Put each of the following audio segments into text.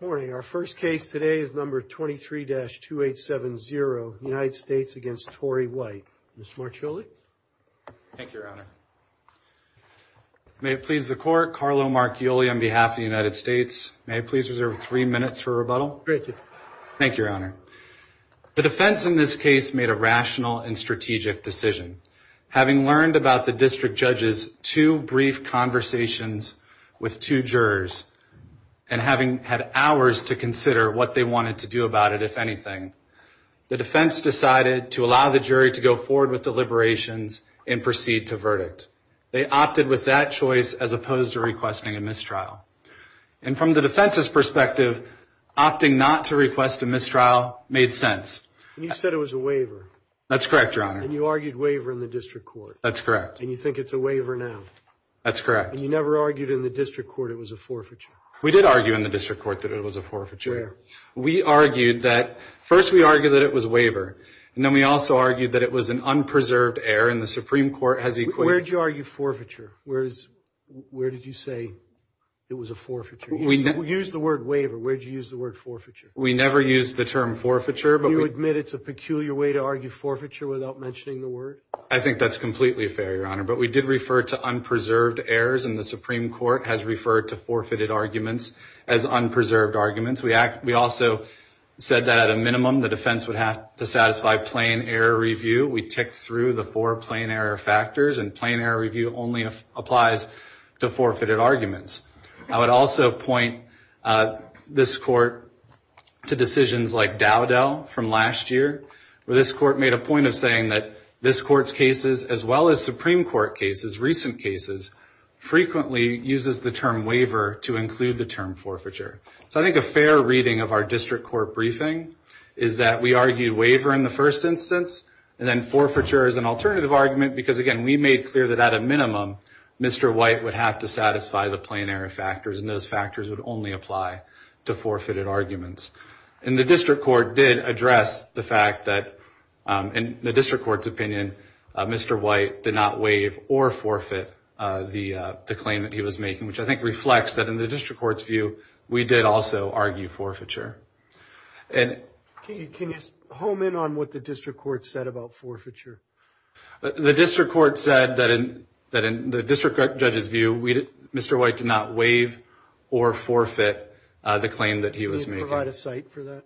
Morning. Our first case today is number 23-2870, United States against Torey White. Mr. Marchioli. Thank you, Your Honor. May it please the court, Carlo Marchioli on behalf of the United States. May I please reserve three minutes for rebuttal? Great. Thank you, Your Honor. The defense in this case made a rational and strategic decision. Having learned about the district judge's two brief conversations with two jurors and having had hours to consider what they wanted to do about it, if anything, the defense decided to allow the jury to go forward with the liberations and proceed to verdict. They opted with that choice as opposed to requesting a mistrial. And from the defense's perspective, opting not to request a mistrial made sense. And you said it was a waiver. That's correct, Your Honor. And you argued waiver in the district court. That's correct. You think it's a waiver now? That's correct. You never argued in the district court it was a forfeiture? We did argue in the district court that it was a forfeiture. Where? We argued that, first we argued that it was a waiver. And then we also argued that it was an unpreserved error. And the Supreme Court has equated – Where did you argue forfeiture? Where did you say it was a forfeiture? We used the word waiver. Where did you use the word forfeiture? We never used the term forfeiture – Do you admit it's a peculiar way to argue forfeiture without mentioning the word? I think that's completely fair, Your Honor. But we did refer to unpreserved errors, and the Supreme Court has referred to forfeited arguments as unpreserved arguments. We also said that at a minimum, the defense would have to satisfy plain error review. We ticked through the four plain error factors, and plain error review only applies to forfeited where this Court made a point of saying that this Court's cases, as well as Supreme Court cases, recent cases, frequently uses the term waiver to include the term forfeiture. So I think a fair reading of our district court briefing is that we argued waiver in the first instance, and then forfeiture as an alternative argument because, again, we made clear that at a minimum, Mr. White would have to satisfy the plain error factors, and those factors would only apply to forfeited arguments. And the district court did address the fact that, in the district court's opinion, Mr. White did not waive or forfeit the claim that he was making, which I think reflects that in the district court's view, we did also argue forfeiture. Can you home in on what the district court said about forfeiture? The district court said that in the district judge's view, Mr. White did not waive or forfeit the claim that he was making. Can you provide a cite for that?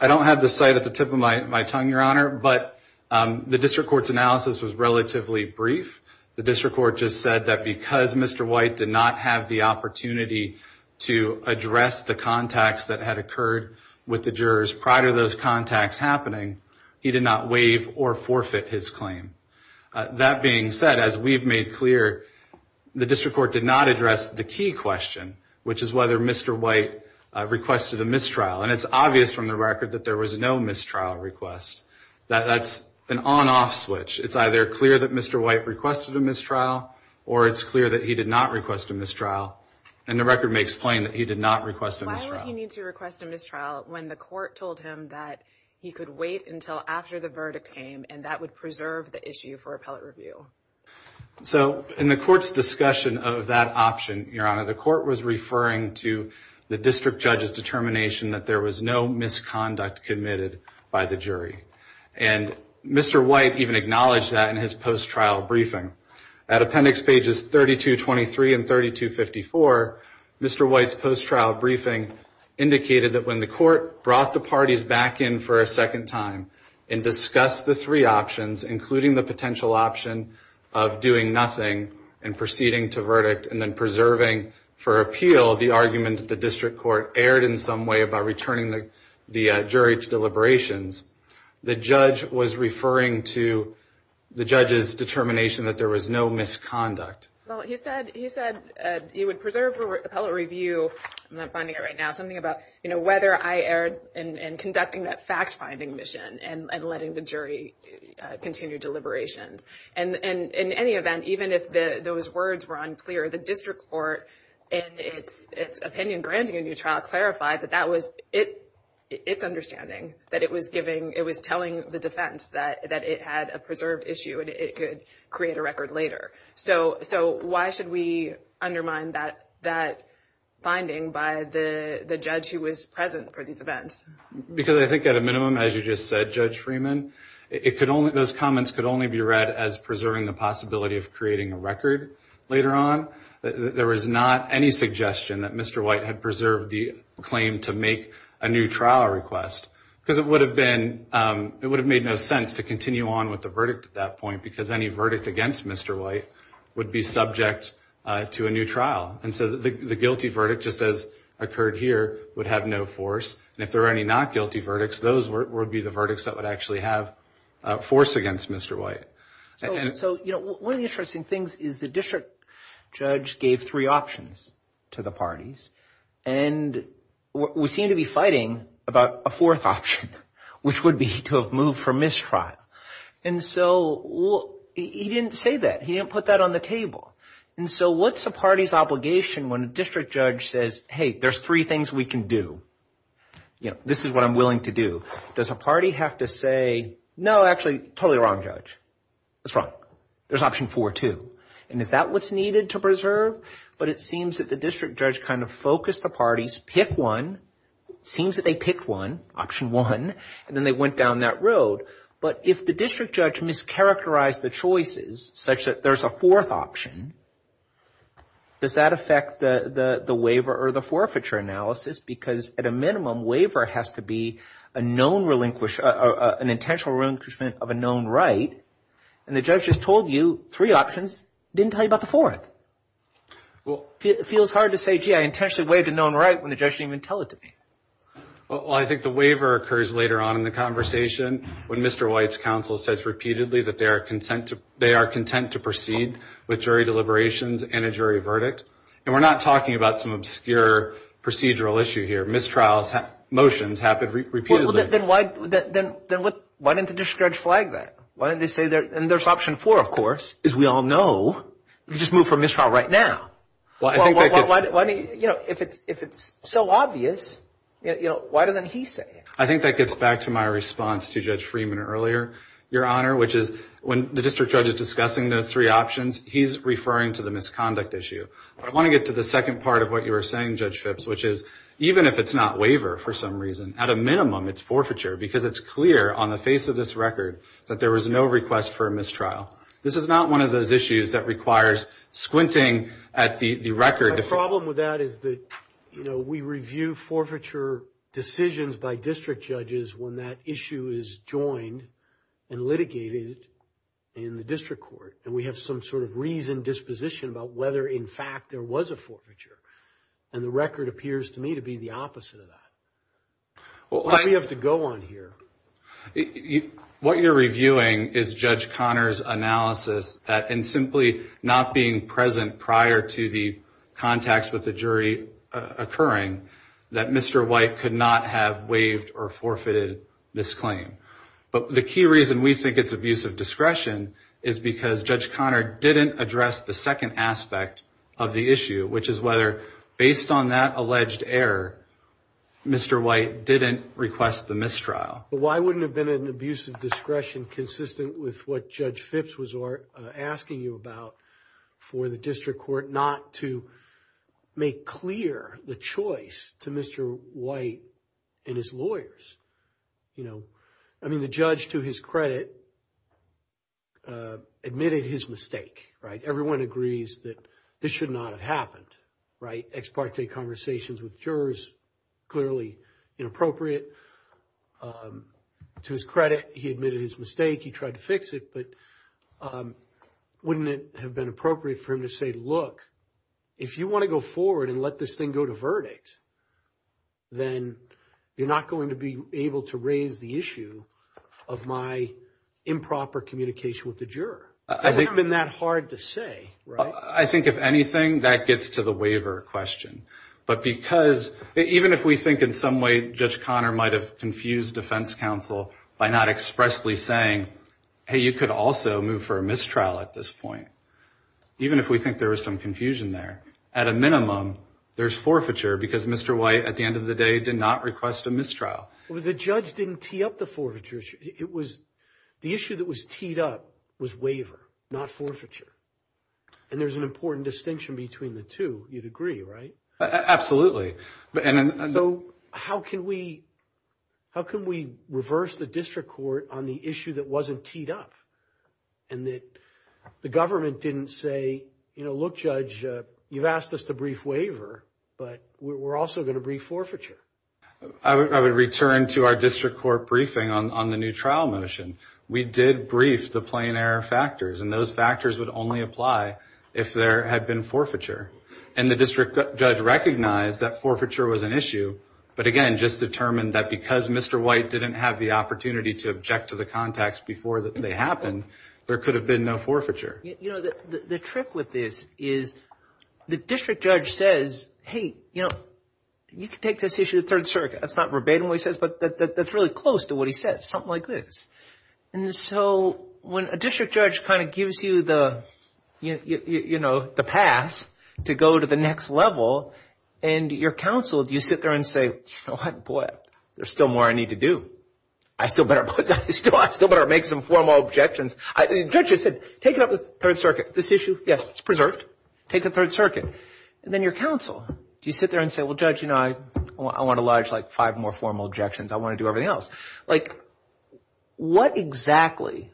I don't have the cite at the tip of my tongue, Your Honor, but the district court's analysis was relatively brief. The district court just said that because Mr. White did not have the opportunity to address the contacts that had occurred with the jurors prior to those contacts happening, he did not waive or forfeit his claim. That being said, as we've made clear, the district court did not address the key question, which is whether Mr. White requested a mistrial. And it's obvious from the record that there was no mistrial request. That's an on-off switch. It's either clear that Mr. White requested a mistrial, or it's clear that he did not request a mistrial. And the record makes plain that he did not request a mistrial. Why would he need to request a mistrial when the court told him that he could wait until after the verdict came, and that would preserve the issue for appellate review? So in the court's discussion of that option, Your Honor, the court was referring to the district judge's determination that there was no misconduct committed by the jury. And Mr. White even acknowledged that in his post-trial briefing. At appendix pages 3223 and 3254, Mr. White's post-trial briefing indicated that when the court brought the parties back in for a second time and discussed the three options, including the potential option of doing nothing and proceeding to verdict and then preserving for appeal the argument that the district court erred in some way about returning the jury to deliberations, the judge was referring to the judge's determination that there was no misconduct. Well, he said he would preserve appellate review. I'm not finding it right now. Something about whether I erred in conducting that fact-finding mission and letting the jury continue deliberations. And in any event, even if those words were unclear, the district court in its opinion granting a new trial clarified that that was its understanding, that it was telling the defense that it had a preserved issue and it could create a record later. So why should we undermine that finding by the judge who was present for these events? Because I think at a minimum, as you just said, Judge Freeman, those comments could only be read as preserving the possibility of creating a record later on. There was not any suggestion that Mr. White had preserved the claim to make a new trial request because it would have made no sense to continue on with the verdict at that point because any verdict against Mr. White would be subject to a new trial. And so the guilty verdict, just as occurred here, would have no force. And if there were any not guilty verdicts, those would be the verdicts that would actually have force against Mr. White. So, you know, one of the interesting things is the district judge gave three options to the parties. And we seem to be fighting about a fourth option, which would be to have moved for mistrial. And so he didn't say that. He didn't put that on the table. And so what's a party's obligation when a district judge says, hey, there's three things we can do? You know, this is what I'm willing to do. Does a party have to say, no, actually, totally wrong, Judge. That's wrong. There's option four, too. And is that what's needed to preserve? But it seems that the district judge kind of focused the parties, picked one, seems that they picked one, option one, and then they went down that road. But if the district judge mischaracterized the choices such that there's a fourth option, does that affect the waiver or the forfeiture analysis? Because at a minimum, waiver has to be a known relinquish, an intentional relinquishment of a known right. And the judge just told you three options, didn't tell you about the fourth. Well, it feels hard to say, gee, I intentionally waived a known right when the judge didn't even tell it to me. Well, I think the waiver occurs later on in the conversation when Mr. White's counsel says repeatedly that they are content to proceed with jury deliberations and a jury verdict. And we're not talking about some obscure procedural issue here. Mistrials, motions happen repeatedly. Then why didn't the district judge flag that? And there's option four, of course, as we all know. You know, if it's so obvious, why doesn't he say it? I think that gets back to my response to Judge Freeman earlier, Your Honor, which is when the district judge is discussing those three options, he's referring to the misconduct issue. I want to get to the second part of what you were saying, Judge Phipps, which is even if it's not waiver for some reason, at a minimum, it's forfeiture because it's clear on the face of this record that there was no request for a mistrial. This is not one of those issues that requires squinting at the record. My problem with that is that, you know, we review forfeiture decisions by district judges when that issue is joined and litigated in the district court. And we have some sort of reasoned disposition about whether, in fact, there was a forfeiture. And the record appears to me to be the opposite of that. What do we have to go on here? What you're reviewing is Judge Conner's analysis that in simply not being present prior to the contacts with the jury occurring, that Mr. White could not have waived or forfeited this claim. But the key reason we think it's abuse of discretion is because Judge Conner didn't address the second aspect of the issue, which is whether based on that alleged error, Mr. White didn't request the mistrial. But why wouldn't it have been an abuse of discretion consistent with what Judge Phipps was asking you about for the district court not to make clear the choice to Mr. White and his lawyers? You know, I mean, the judge, to his credit, admitted his mistake, right? Everyone agrees that this should not have happened, right? Ex parte conversations with the jury were clearly inappropriate. To his credit, he admitted his mistake. He tried to fix it. But wouldn't it have been appropriate for him to say, look, if you want to go forward and let this thing go to verdict, then you're not going to be able to raise the issue of my improper communication with the juror. It wouldn't have been that hard to say, right? I think if anything, that gets to the waiver question. But because even if we think in some way Judge Conner might have confused defense counsel by not expressly saying, hey, you could also move for a mistrial at this point, even if we think there was some confusion there, at a minimum, there's forfeiture because Mr. White at the end of the day did not request a mistrial. Well, the judge didn't tee up the forfeiture issue. It was the issue that was teed up was waiver, not forfeiture. And there's an important distinction between the two. You'd agree, right? So how can we reverse the district court on the issue that wasn't teed up? And that the government didn't say, look, Judge, you've asked us to brief waiver, but we're also going to brief forfeiture. I would return to our district court briefing on the new trial motion. We did brief the plain error factors, and those factors would only apply if there had been forfeiture. And the district judge recognized that forfeiture was an issue, but again, just determined that because Mr. White didn't have the opportunity to object to the context before they happened, there could have been no forfeiture. You know, the trick with this is the district judge says, hey, you know, you can take this issue to the Third Circuit. That's not verbatim what he says, but that's really close to what he said, something like this. And so when a district judge kind of gives you the pass to go to the next level, and your counsel, do you sit there and say, you know what, boy, there's still more I need to do. I still better make some formal objections. The judge just said, take it up to the Third Circuit. This issue, yes, it's preserved. Take it to the Third Circuit. And then your counsel, do you sit there and say, well, Judge, you know, I want to lodge like five more formal objections. I want to do everything else. Like, what exactly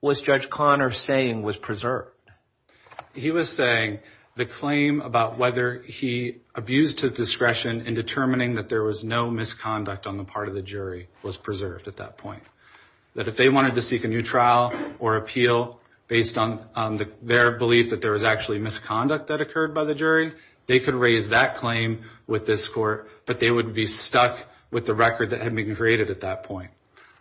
was Judge Conner saying was preserved? He was saying the claim about whether he abused his discretion in determining that there was no misconduct on the part of the jury was preserved at that point. That if they wanted to seek a new trial or appeal based on their belief that there was actually misconduct that occurred by the jury, they could raise that claim with this court, but they would be stuck with the record that had been created at that point.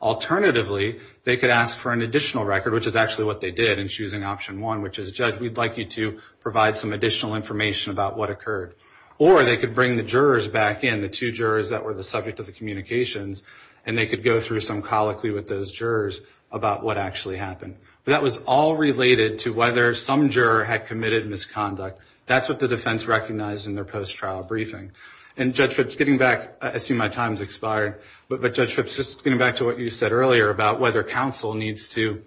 Alternatively, they could ask for an additional record, which is actually what they did in choosing option one, which is, Judge, we'd like you to provide some additional information about what occurred. Or they could bring the jurors back in, the two jurors that were the subject of the communications, and they could go through some colloquy with those jurors about what actually happened. But that was all related to whether some juror had committed misconduct. That's what the defense recognized in their post-trial briefing. And Judge Phipps, getting back, I assume my time's expired, but Judge Phipps, just getting back to what you said earlier about whether counsel needs to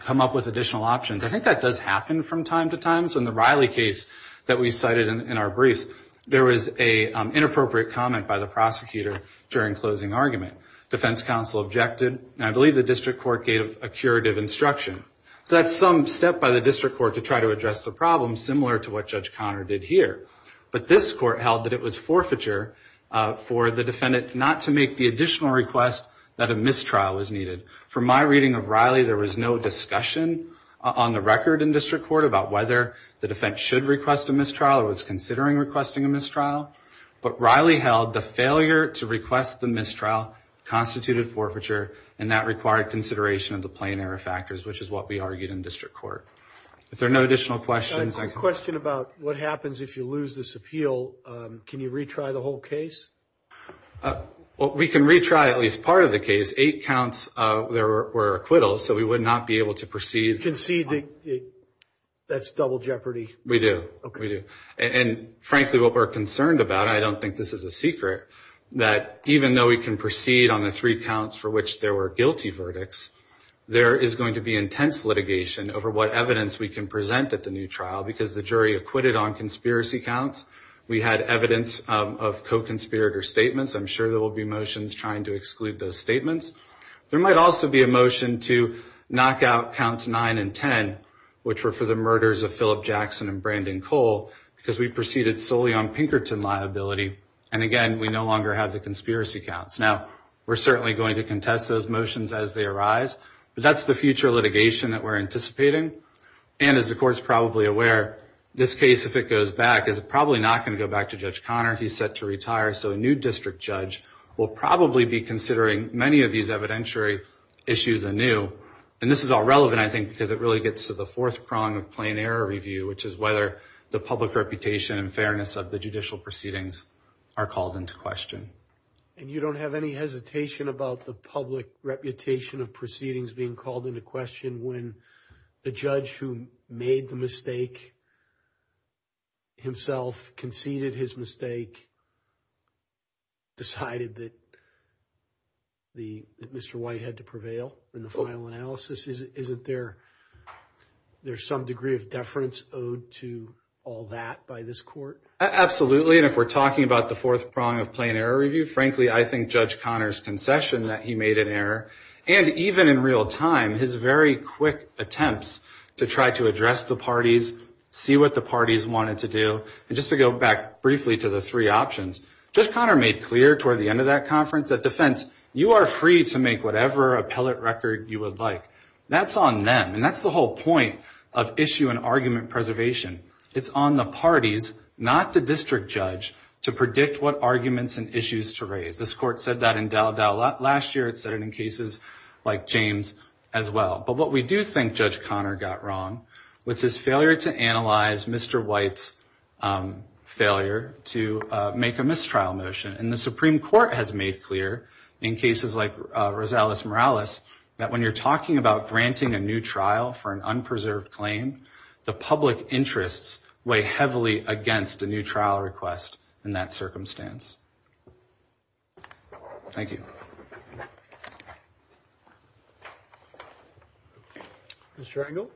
come up with additional options, I think that does happen from time to time. So in the Riley case that we cited in our briefs, there was an inappropriate comment by the prosecutor during closing argument. Defense counsel objected, and I believe the district court gave a curative instruction. So that's some step by the district court to try to address the problem, similar to what Judge Conner did here. But this court held that it was forfeiture for the defendant not to make the additional request that a mistrial was needed. From my reading of Riley, there was no discussion on the record in district court about whether the defense should request a mistrial or was considering requesting a mistrial. But Riley held the failure to request the mistrial constituted forfeiture, and that required consideration of the plain error factors, which is what we argued in district court. Are there no additional questions? I have a question about what happens if you lose this appeal. Can you retry the whole case? We can retry at least part of the case. Eight counts there were acquittals, so we would not be able to proceed. Concede that's double jeopardy? We do. We do. And frankly, what we're concerned about, I don't think this is a secret, that even though we can proceed on the three counts for which there were guilty verdicts, there is going to be intense litigation over what evidence we can present at the new trial because the jury acquitted on conspiracy counts. We had evidence of co-conspirator statements. I'm sure there will be motions trying to exclude those statements. There might also be a motion to knock out counts 9 and 10, which were for the murders of Philip Jackson and Brandon Cole, because we proceeded solely on Pinkerton liability. And again, we no longer have the conspiracy counts. Now, we're certainly going to contest those motions as they arise. But that's the future litigation that we're anticipating. And as the court's probably aware, this case, if it goes back, is probably not going to go back to Judge Conner. He's set to retire. So a new district judge will probably be considering many of these evidentiary issues anew. And this is all relevant, I think, because it really gets to the fourth prong of plain error review, which is whether the public reputation and fairness of the judicial proceedings are called into question. And you don't have any hesitation about the public reputation of proceedings being called into question when the judge who made the mistake himself conceded his mistake, decided that Mr. White had to prevail in the final analysis? Isn't there some degree of deference owed to all that by this court? Absolutely. And if we're talking about the fourth prong of plain error review, frankly, I think Judge Conner's concession that he made an error, and even in real time, his very quick attempts to try to address the parties, see what the parties wanted to do. And just to go back briefly to the three options, Judge Conner made clear toward the end of that conference that defense, you are free to make whatever appellate record you would like. That's on them. And that's the whole point of issue and argument preservation. It's on the parties, not the district judge, to predict what arguments and issues to raise. This court said that in Daldao last year. It said it in cases like James as well. But what we do think Judge Conner got wrong was his failure to analyze Mr. White's failure to make a mistrial motion. And the Supreme Court has made clear in cases like Rosales-Morales that when you're talking about granting a new trial for an unpreserved claim, the public interests weigh heavily against a new trial request in that circumstance. Thank you. Mr. Engel?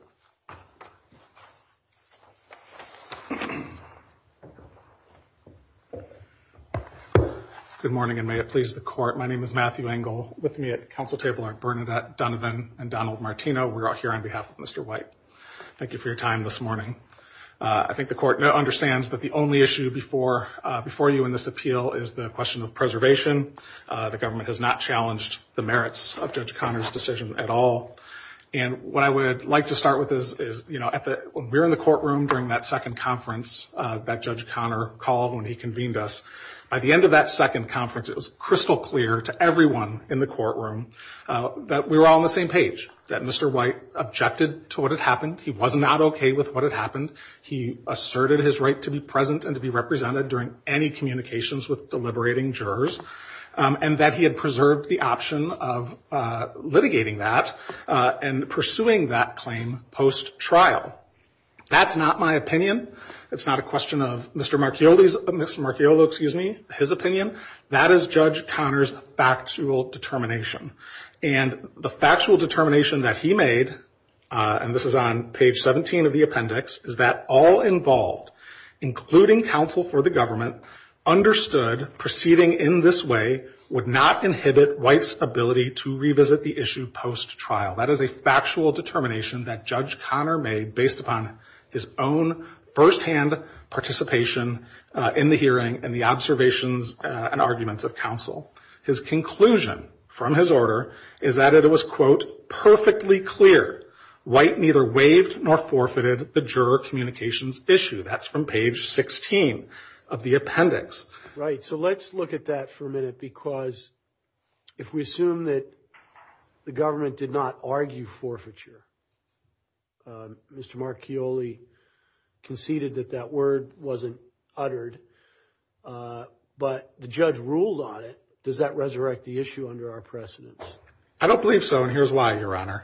Good morning, and may it please the court. My name is Matthew Engel. With me at the council table are Bernadette Donovan and Donald Martino. We are here on behalf of Mr. White. Thank you for your time this morning. I think the court understands that the only issue before you in this appeal is the question of preservation. The government has not challenged the merits of Judge Conner's decision at all. And what I would like to start with is when we were in the courtroom during that second conference that Judge Conner called when he convened us, by the end of that second conference, it was crystal clear to everyone in the courtroom that we were all on the same page, that Mr. White objected to what had happened. He was not okay with what had happened. He asserted his right to be present and to be represented during any communications with deliberating jurors, and that he had preserved the option of litigating that and pursuing that claim post-trial. That's not my opinion. It's not a question of Mr. Marchioli's, Mr. Marchioli, excuse me, his opinion. That is Judge Conner's factual determination. And the factual determination that he made, and this is on page 17 of the appendix, is that all involved, including counsel for the government, understood proceeding in this way would not inhibit White's ability to revisit the issue post-trial. That is a factual determination that Judge Conner made based upon his own firsthand participation in the hearing and the observations and arguments of counsel. His conclusion from his order is that it was, quote, perfectly clear. White neither waived nor forfeited the juror communications issue. That's from page 16 of the appendix. Right. So let's look at that for a minute, because if we assume that the government did not argue forfeiture, Mr. Marchioli conceded that that word wasn't uttered, but the judge ruled on it. Does that resurrect the issue under our precedence? I don't believe so, and here's why, Your Honor.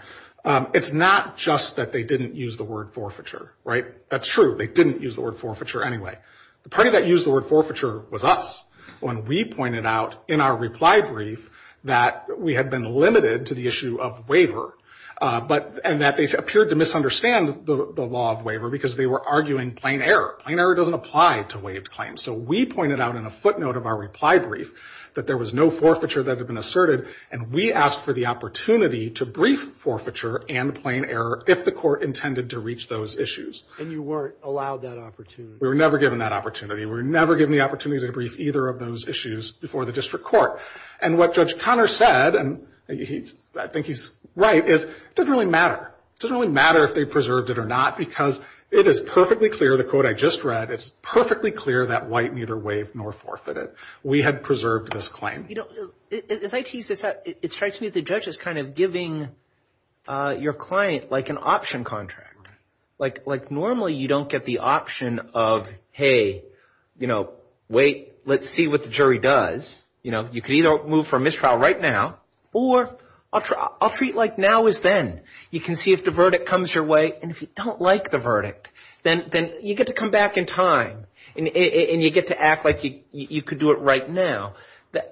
It's not just that they didn't use the word forfeiture. Right? That's true. They didn't use the word forfeiture anyway. The party that used the word forfeiture was us when we pointed out in our reply brief that we had been limited to the issue of waiver, and that they appeared to misunderstand the law of waiver because they were arguing plain error. Plain error doesn't apply to waived claims. So we pointed out in a footnote of our reply brief that there was no forfeiture that had been asserted, and we asked for the opportunity to brief forfeiture and plain error if the court intended to reach those issues. And you weren't allowed that opportunity. We were never given that opportunity. We were never given the opportunity to brief either of those issues before the district court. And what Judge Conner said, and I think he's right, is it doesn't really matter. It doesn't really matter if they preserved it or not because it is perfectly clear, the quote I just read, it's perfectly clear that White neither waived nor forfeited. We had preserved this claim. You know, as I tease this out, it strikes me that the judge is kind of giving your client like an option contract. Like normally you don't get the option of, hey, you know, wait, let's see what the jury does. You know, you could either move for mistrial right now or I'll treat like now is then. You can see if the verdict comes your way, and if you don't like the verdict, then you get to come back in time and you get to act like you could do it right now.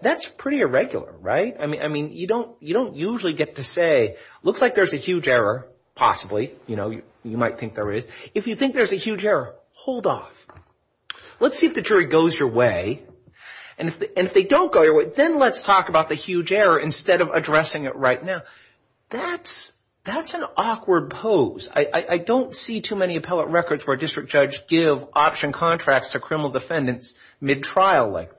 That's pretty irregular, right? I mean, you don't usually get to say, looks like there's a huge error, possibly. You know, you might think there is. If you think there's a huge error, hold off. Let's see if the jury goes your way. And if they don't go your way, then let's talk about the huge error instead of addressing it right now. That's an awkward pose. I don't see too many appellate records where a district judge give option contracts to criminal defendants mid-trial like that.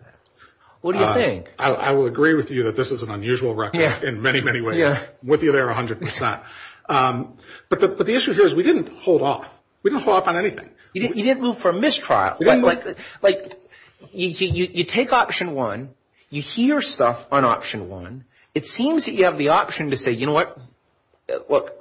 What do you think? I will agree with you that this is an unusual record in many, many ways. I'm with you there 100%. But the issue here is we didn't hold off. We didn't hold off on anything. You didn't move for mistrial. You take option one. You hear stuff on option one. It seems that you have the option to say, you know what, look,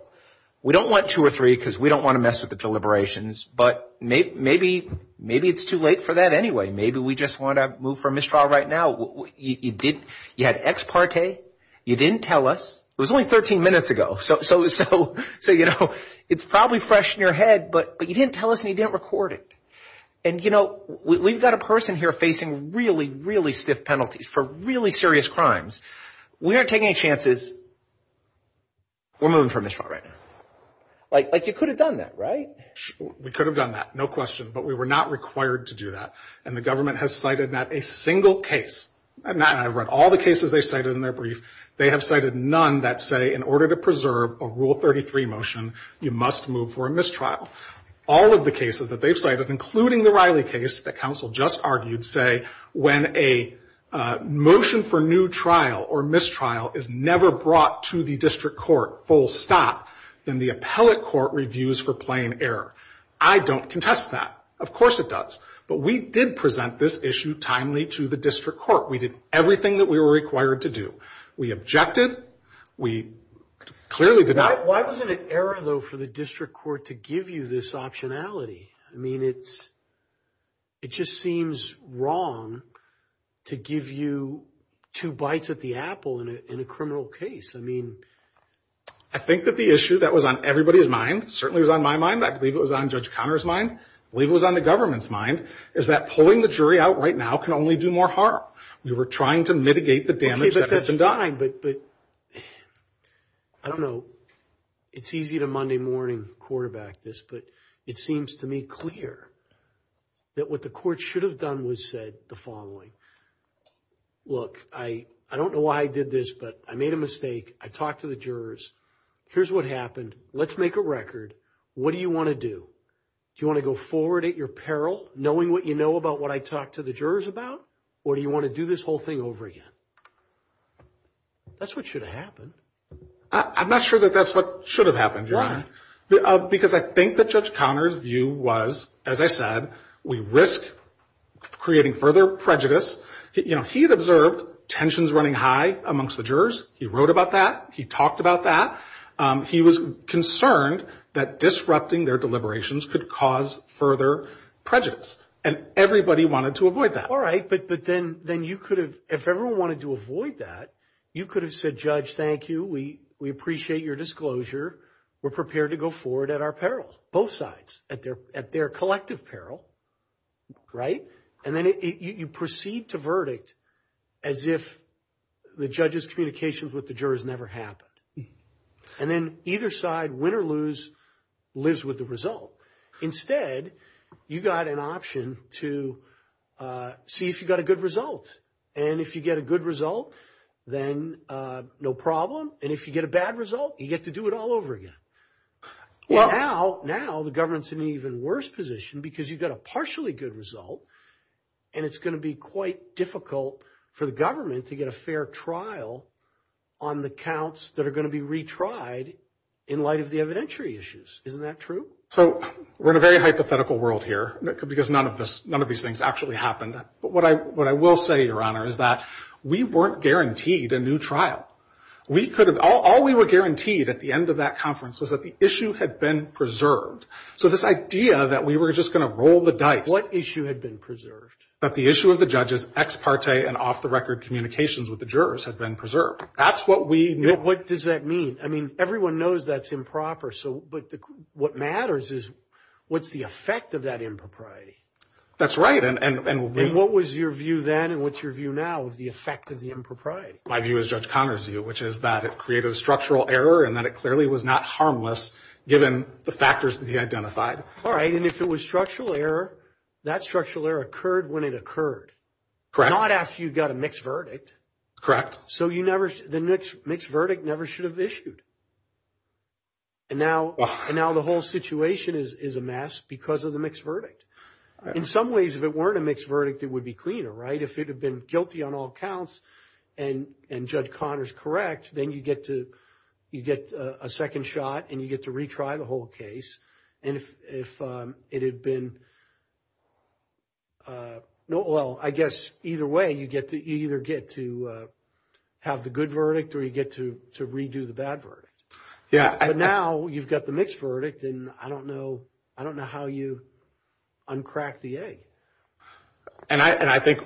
we don't want two or three because we don't want to mess with the deliberations. But maybe it's too late for that anyway. Maybe we just want to move for mistrial right now. You had ex parte. You didn't tell us. It was only 13 minutes ago. So, you know, it's probably fresh in your head, but you didn't tell us and you didn't record it. And, you know, we've got a person here facing really, really stiff penalties for really serious crimes. We aren't taking any chances. We're moving for mistrial right now. Like you could have done that, right? We could have done that, no question. But we were not required to do that. And the government has cited not a single case. I've read all the cases they cited in their brief. They have cited none that say in order to preserve a Rule 33 motion, you must move for a mistrial. All of the cases that they've cited, including the Riley case that counsel just argued, say when a motion for new trial or mistrial is never brought to the district court full stop, then the appellate court reviews for plain error. I don't contest that. Of course it does. But we did present this issue timely to the district court. We did everything that we were required to do. We objected. We clearly did not. Why was it an error, though, for the district court to give you this optionality? I mean, it just seems wrong to give you two bites at the apple in a criminal case. I mean, I think that the issue that was on everybody's mind, certainly was on my mind, I believe it was on Judge Conner's mind, I believe it was on the government's mind, is that pulling the jury out right now can only do more harm. We were trying to mitigate the damage that had been done. I don't know. It's easy to Monday morning quarterback this, but it seems to me clear that what the court should have done was said the following. Look, I don't know why I did this, but I made a mistake. I talked to the jurors. Here's what happened. Let's make a record. What do you want to do? Do you want to go forward at your peril, knowing what you know about what I talked to the jurors about, or do you want to do this whole thing over again? That's what should have happened. I'm not sure that that's what should have happened, Your Honor. Because I think that Judge Conner's view was, as I said, we risk creating further prejudice. You know, he had observed tensions running high amongst the jurors. He wrote about that. He talked about that. He was concerned that disrupting their deliberations could cause further prejudice, and everybody wanted to avoid that. All right, but then you could have, if everyone wanted to avoid that, you could have said, Judge, thank you. We appreciate your disclosure. We're prepared to go forward at our peril, both sides, at their collective peril, right? And then you proceed to verdict as if the judge's communications with the jurors never happened. And then either side, win or lose, lives with the result. Instead, you got an option to see if you got a good result. And if you get a good result, then no problem. And if you get a bad result, you get to do it all over again. Now, the government's in an even worse position because you got a partially good result, and it's going to be quite difficult for the government to get a fair trial on the counts that are going to be retried in light of the evidentiary issues. Isn't that true? So we're in a very hypothetical world here because none of these things actually happened. But what I will say, Your Honor, is that we weren't guaranteed a new trial. All we were guaranteed at the end of that conference was that the issue had been preserved. So this idea that we were just going to roll the dice. What issue had been preserved? That the issue of the judge's ex parte and off-the-record communications with the jurors had been preserved. That's what we knew. What does that mean? I mean, everyone knows that's improper. But what matters is what's the effect of that impropriety. That's right. And what was your view then and what's your view now of the effect of the impropriety? My view is Judge Conner's view, which is that it created a structural error and that it clearly was not harmless given the factors that he identified. All right. And if it was structural error, that structural error occurred when it occurred. Correct. Not after you got a mixed verdict. Correct. So the mixed verdict never should have issued. And now the whole situation is a mess because of the mixed verdict. In some ways, if it weren't a mixed verdict, it would be cleaner, right? If it had been guilty on all counts and Judge Conner's correct, then you get a second shot and you get to retry the whole case. And if it had been, well, I guess either way, you either get to have the good verdict or you get to redo the bad verdict. Yeah. But now you've got the mixed verdict and I don't know how you uncrack the egg. And I think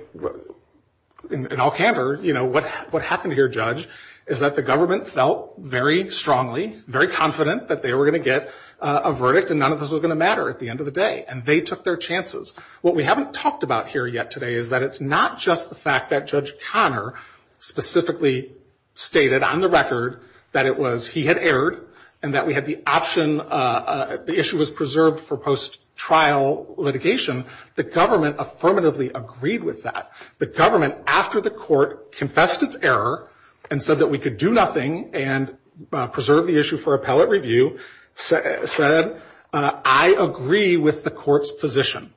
in all candor, what happened here, Judge, is that the government felt very strongly, very confident that they were going to get a verdict and none of this was going to matter at the end of the day. And they took their chances. What we haven't talked about here yet today is that it's not just the fact that Judge Conner specifically stated on the record that it was he had erred and that we had the option, the issue was preserved for post-trial litigation. The government affirmatively agreed with that. The government, after the court confessed its error and said that we could do nothing and preserve the issue for appellate review, said, I agree with the court's position.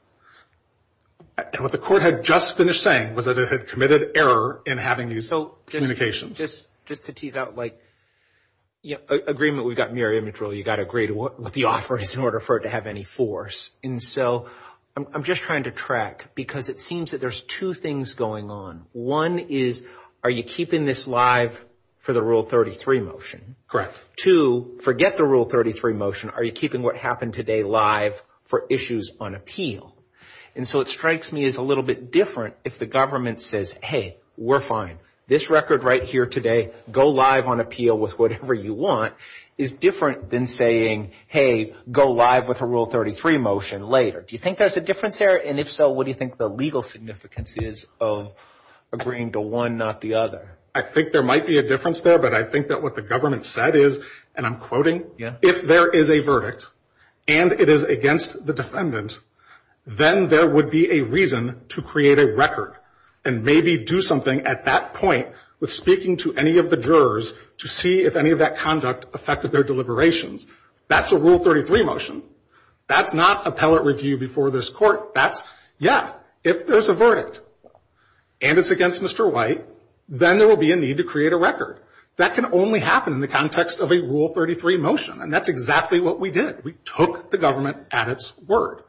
And what the court had just finished saying was that it had committed error in having these communications. So just to tease out, like, agreement, we've got mirror image rule. You've got to agree to what the offer is in order for it to have any force. And so I'm just trying to track because it seems that there's two things going on. One is, are you keeping this live for the Rule 33 motion? Two, forget the Rule 33 motion. Are you keeping what happened today live for issues on appeal? And so it strikes me as a little bit different if the government says, hey, we're fine. This record right here today, go live on appeal with whatever you want, is different than saying, hey, go live with a Rule 33 motion later. Do you think there's a difference there? And if so, what do you think the legal significance is of agreeing to one, not the other? I think there might be a difference there. But I think that what the government said is, and I'm quoting, if there is a verdict and it is against the defendant, then there would be a reason to create a record and maybe do something at that point with speaking to any of the jurors to see if any of that conduct affected their deliberations. That's a Rule 33 motion. That's not appellate review before this court. That's, yeah, if there's a verdict and it's against Mr. White, then there will be a need to create a record. That can only happen in the context of a Rule 33 motion. And that's exactly what we did. We took the government at its word.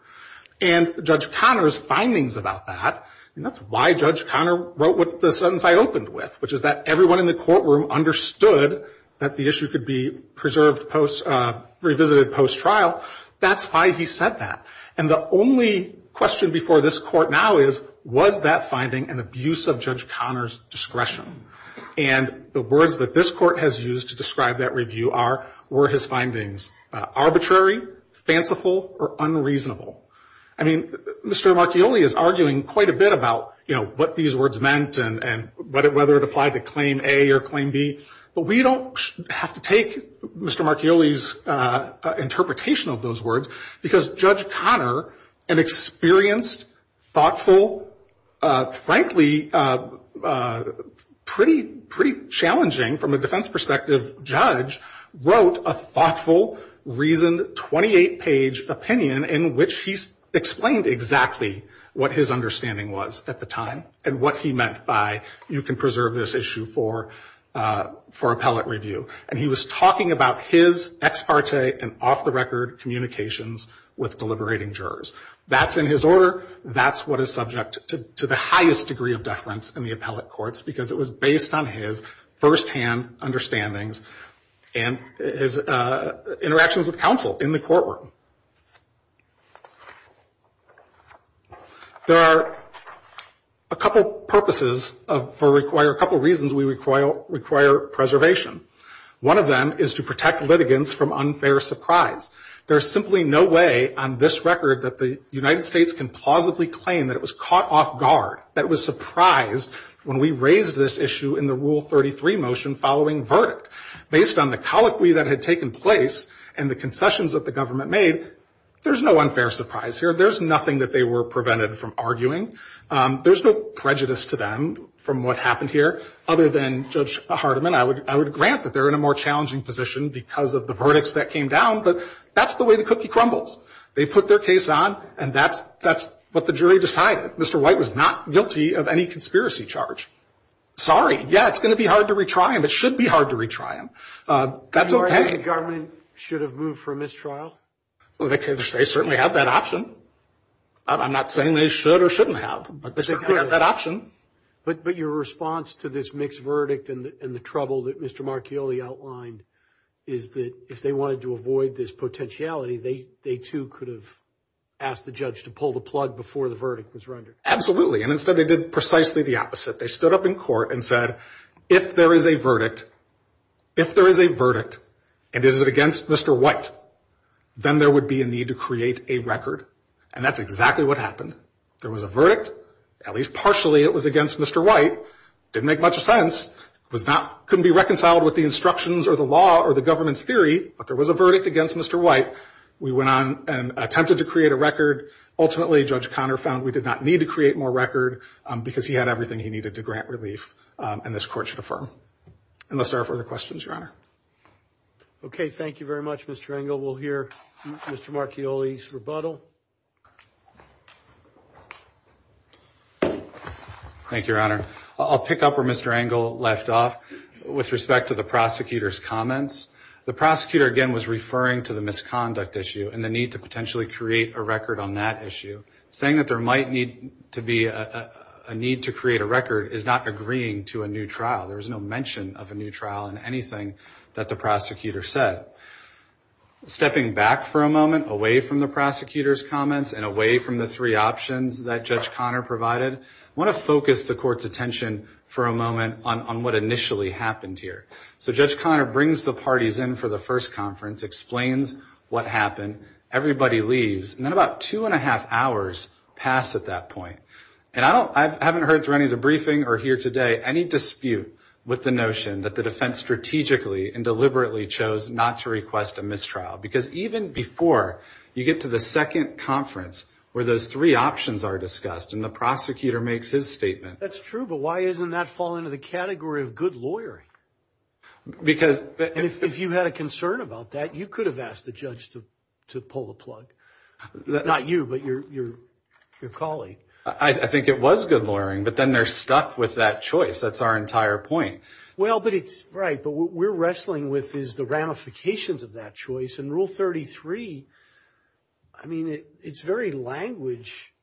And Judge Conner's findings about that, and that's why Judge Conner wrote the sentence I opened with, which is that everyone in the courtroom understood that the issue could be preserved, revisited post-trial. That's why he said that. And the only question before this court now is, was that finding an abuse of Judge Conner's discretion? And the words that this court has used to describe that review are, were his findings arbitrary, fanciful, or unreasonable? I mean, Mr. Marchioli is arguing quite a bit about, you know, what these words meant and whether it applied to Claim A or Claim B. But we don't have to take Mr. Marchioli's interpretation of those words because Judge Conner, an experienced, thoughtful, frankly, pretty challenging from a defense perspective judge, wrote a thoughtful, reasoned, 28-page opinion in which he explained exactly what his understanding was at the time and what he meant by you can preserve this issue for appellate review. And he was talking about his ex parte and off-the-record communications with deliberating jurors. That's in his order. That's what is subject to the highest degree of deference in the appellate courts because it was based on his firsthand understandings and his interactions with counsel in the courtroom. There are a couple purposes for a couple reasons we require preservation. One of them is to protect litigants from unfair surprise. There is simply no way on this record that the United States can plausibly claim that it was caught off guard, that it was surprised when we raised this issue in the Rule 33 motion following verdict. Based on the colloquy that had taken place and the concessions that the government made, there's no unfair surprise here. There's nothing that they were prevented from arguing. There's no prejudice to them from what happened here other than Judge Hardiman. I would grant that they're in a more challenging position because of the verdicts that came down, but that's the way the cookie crumbles. They put their case on, and that's what the jury decided. Mr. White was not guilty of any conspiracy charge. Sorry. Yeah, it's going to be hard to retry him. It should be hard to retry him. That's okay. Do you think the government should have moved for a mistrial? They certainly have that option. I'm not saying they should or shouldn't have, but they certainly have that option. But your response to this mixed verdict and the trouble that Mr. Marchioli outlined is that if they wanted to avoid this potentiality, they too could have asked the judge to pull the plug before the verdict was rendered. Absolutely, and instead they did precisely the opposite. They stood up in court and said, if there is a verdict, if there is a verdict, and it is against Mr. White, then there would be a need to create a record, and that's exactly what happened. There was a verdict. At least partially it was against Mr. White. It didn't make much sense. It couldn't be reconciled with the instructions or the law or the government's theory, but there was a verdict against Mr. White. We went on and attempted to create a record. Ultimately, Judge Conner found we did not need to create more record because he had everything he needed to grant relief and this court should affirm. Unless there are further questions, Your Honor. Okay, thank you very much, Mr. Engel. We'll hear Mr. Marchioli's rebuttal. Thank you, Your Honor. I'll pick up where Mr. Engel left off with respect to the prosecutor's comments. The prosecutor, again, was referring to the misconduct issue and the need to potentially create a record on that issue, so saying that there might need to be a need to create a record is not agreeing to a new trial. There was no mention of a new trial in anything that the prosecutor said. Stepping back for a moment, away from the prosecutor's comments and away from the three options that Judge Conner provided, I want to focus the court's attention for a moment on what initially happened here. So Judge Conner brings the parties in for the first conference, explains what happened, everybody leaves, and then about two and a half hours pass at that point. And I haven't heard through any of the briefing or here today any dispute with the notion that the defense strategically and deliberately chose not to request a mistrial because even before you get to the second conference where those three options are discussed and the prosecutor makes his statement. That's true, but why doesn't that fall into the category of good lawyering? And if you had a concern about that, you could have asked the judge to pull the plug. Not you, but your colleague. I think it was good lawyering, but then they're stuck with that choice. That's our entire point. Right, but what we're wrestling with is the ramifications of that choice. And Rule 33, I mean, its very language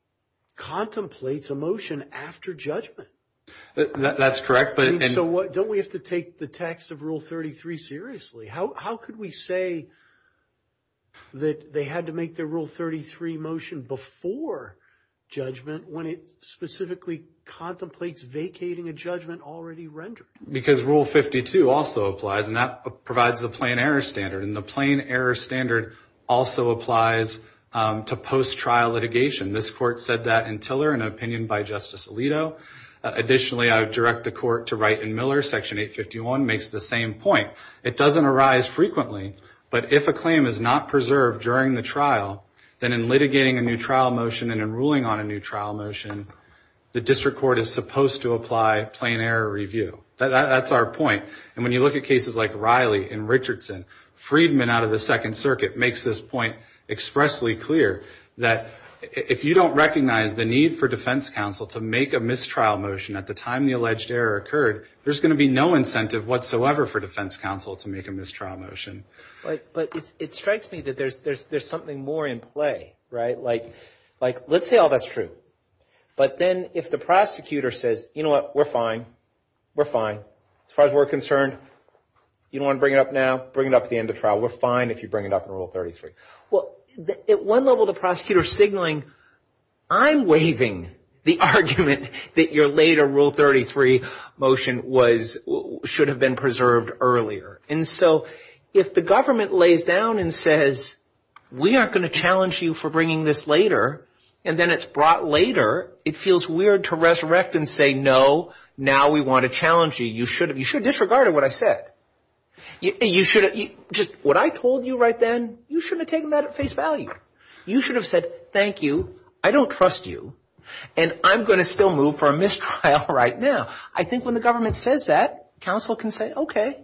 contemplates a motion after judgment. That's correct. So don't we have to take the text of Rule 33 seriously? How could we say that they had to make their Rule 33 motion before judgment when it specifically contemplates vacating a judgment already rendered? Because Rule 52 also applies, and that provides the plain error standard. And the plain error standard also applies to post-trial litigation. This court said that in Tiller in an opinion by Justice Alito. Additionally, I would direct the court to write in Miller, Section 851 makes the same point. It doesn't arise frequently, but if a claim is not preserved during the trial, then in litigating a new trial motion and in ruling on a new trial motion, the district court is supposed to apply plain error review. That's our point. And when you look at cases like Riley and Richardson, Friedman out of the Second Circuit makes this point expressly clear that if you don't recognize the need for defense counsel to make a mistrial motion at the time the alleged error occurred, there's going to be no incentive whatsoever for defense counsel to make a mistrial motion. But it strikes me that there's something more in play, right? Like let's say all that's true, but then if the prosecutor says, you know what, we're fine, we're fine. As far as we're concerned, you don't want to bring it up now, bring it up at the end of trial. We're fine if you bring it up in Rule 33. Well, at one level the prosecutor is signaling, I'm waiving the argument that your later Rule 33 motion should have been preserved earlier. And so if the government lays down and says, we aren't going to challenge you for bringing this later, and then it's brought later, it feels weird to resurrect and say, no, now we want to challenge you. You should have disregarded what I said. What I told you right then, you shouldn't have taken that at face value. You should have said, thank you, I don't trust you, and I'm going to still move for a mistrial right now. I think when the government says that, counsel can say, okay,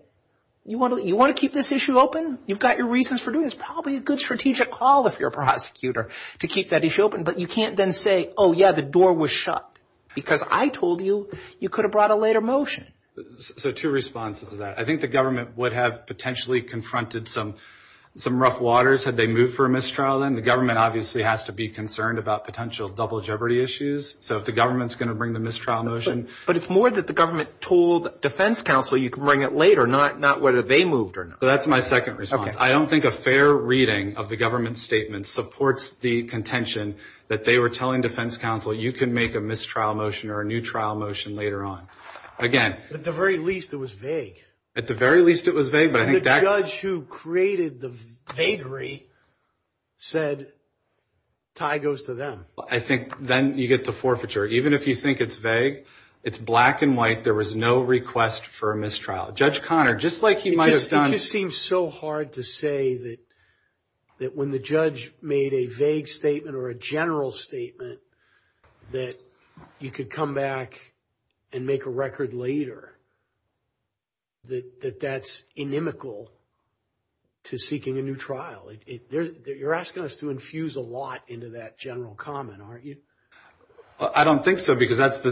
you want to keep this issue open? You've got your reasons for doing this. Probably a good strategic call if you're a prosecutor to keep that issue open. But you can't then say, oh, yeah, the door was shut, because I told you you could have brought a later motion. So two responses to that. I think the government would have potentially confronted some rough waters had they moved for a mistrial then. The government obviously has to be concerned about potential double jeopardy issues. So if the government is going to bring the mistrial motion. But it's more that the government told defense counsel you can bring it later, not whether they moved or not. That's my second response. I don't think a fair reading of the government statement supports the contention that they were telling defense counsel you can make a mistrial motion or a new trial motion later on. Again. At the very least, it was vague. At the very least, it was vague. The judge who created the vagary said, tie goes to them. I think then you get to forfeiture. Even if you think it's vague, it's black and white. There was no request for a mistrial. Judge Conner, just like he might have done. It just seems so hard to say that when the judge made a vague statement or a general statement that you could come back and make a record later, that that's inimical to seeking a new trial. You're asking us to infuse a lot into that general comment, aren't you? I don't think so because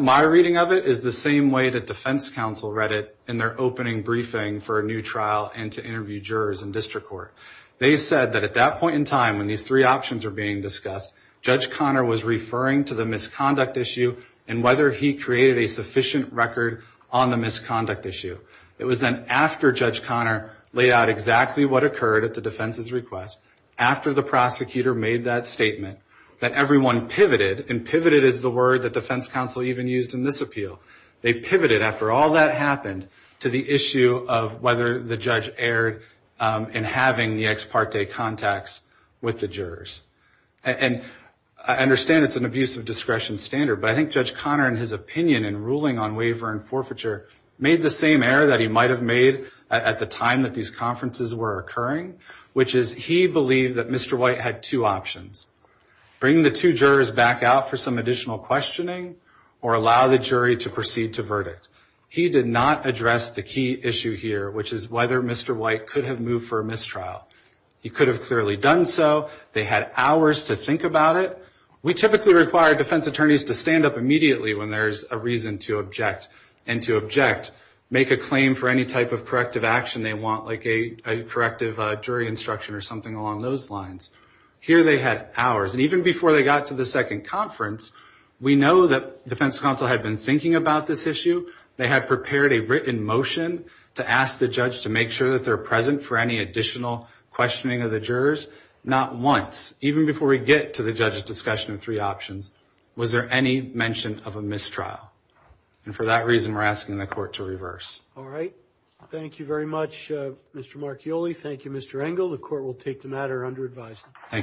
my reading of it is the same way that defense counsel read it in their opening briefing for a new trial and to interview jurors in district court. They said that at that point in time when these three options were being discussed, Judge Conner was referring to the misconduct issue and whether he created a sufficient record on the misconduct issue. It was then after Judge Conner laid out exactly what occurred at the defense's request, after the prosecutor made that statement, that everyone pivoted, and pivoted is the word that defense counsel even used in this appeal. They pivoted after all that happened to the issue of whether the judge erred in having the ex parte contacts with the jurors. I understand it's an abuse of discretion standard, but I think Judge Conner in his opinion in ruling on waiver and forfeiture made the same error that he might have made at the time that these conferences were occurring, which is he believed that Mr. White had two options, bring the two jurors back out for some additional questioning or allow the jury to proceed to verdict. He did not address the key issue here, which is whether Mr. White could have moved for a mistrial. He could have clearly done so. They had hours to think about it. We typically require defense attorneys to stand up immediately when there's a reason to object and to object, make a claim for any type of corrective action they want, like a corrective jury instruction or something along those lines. Here they had hours, and even before they got to the second conference, we know that defense counsel had been thinking about this issue. They had prepared a written motion to ask the judge to make sure that they're present for any additional questioning of the jurors. Not once, even before we get to the judge's discussion of three options, was there any mention of a mistrial. And for that reason, we're asking the court to reverse. All right. Thank you very much, Mr. Marchioli. Thank you, Mr. Engel. The court will take the matter under advisement. Thank you.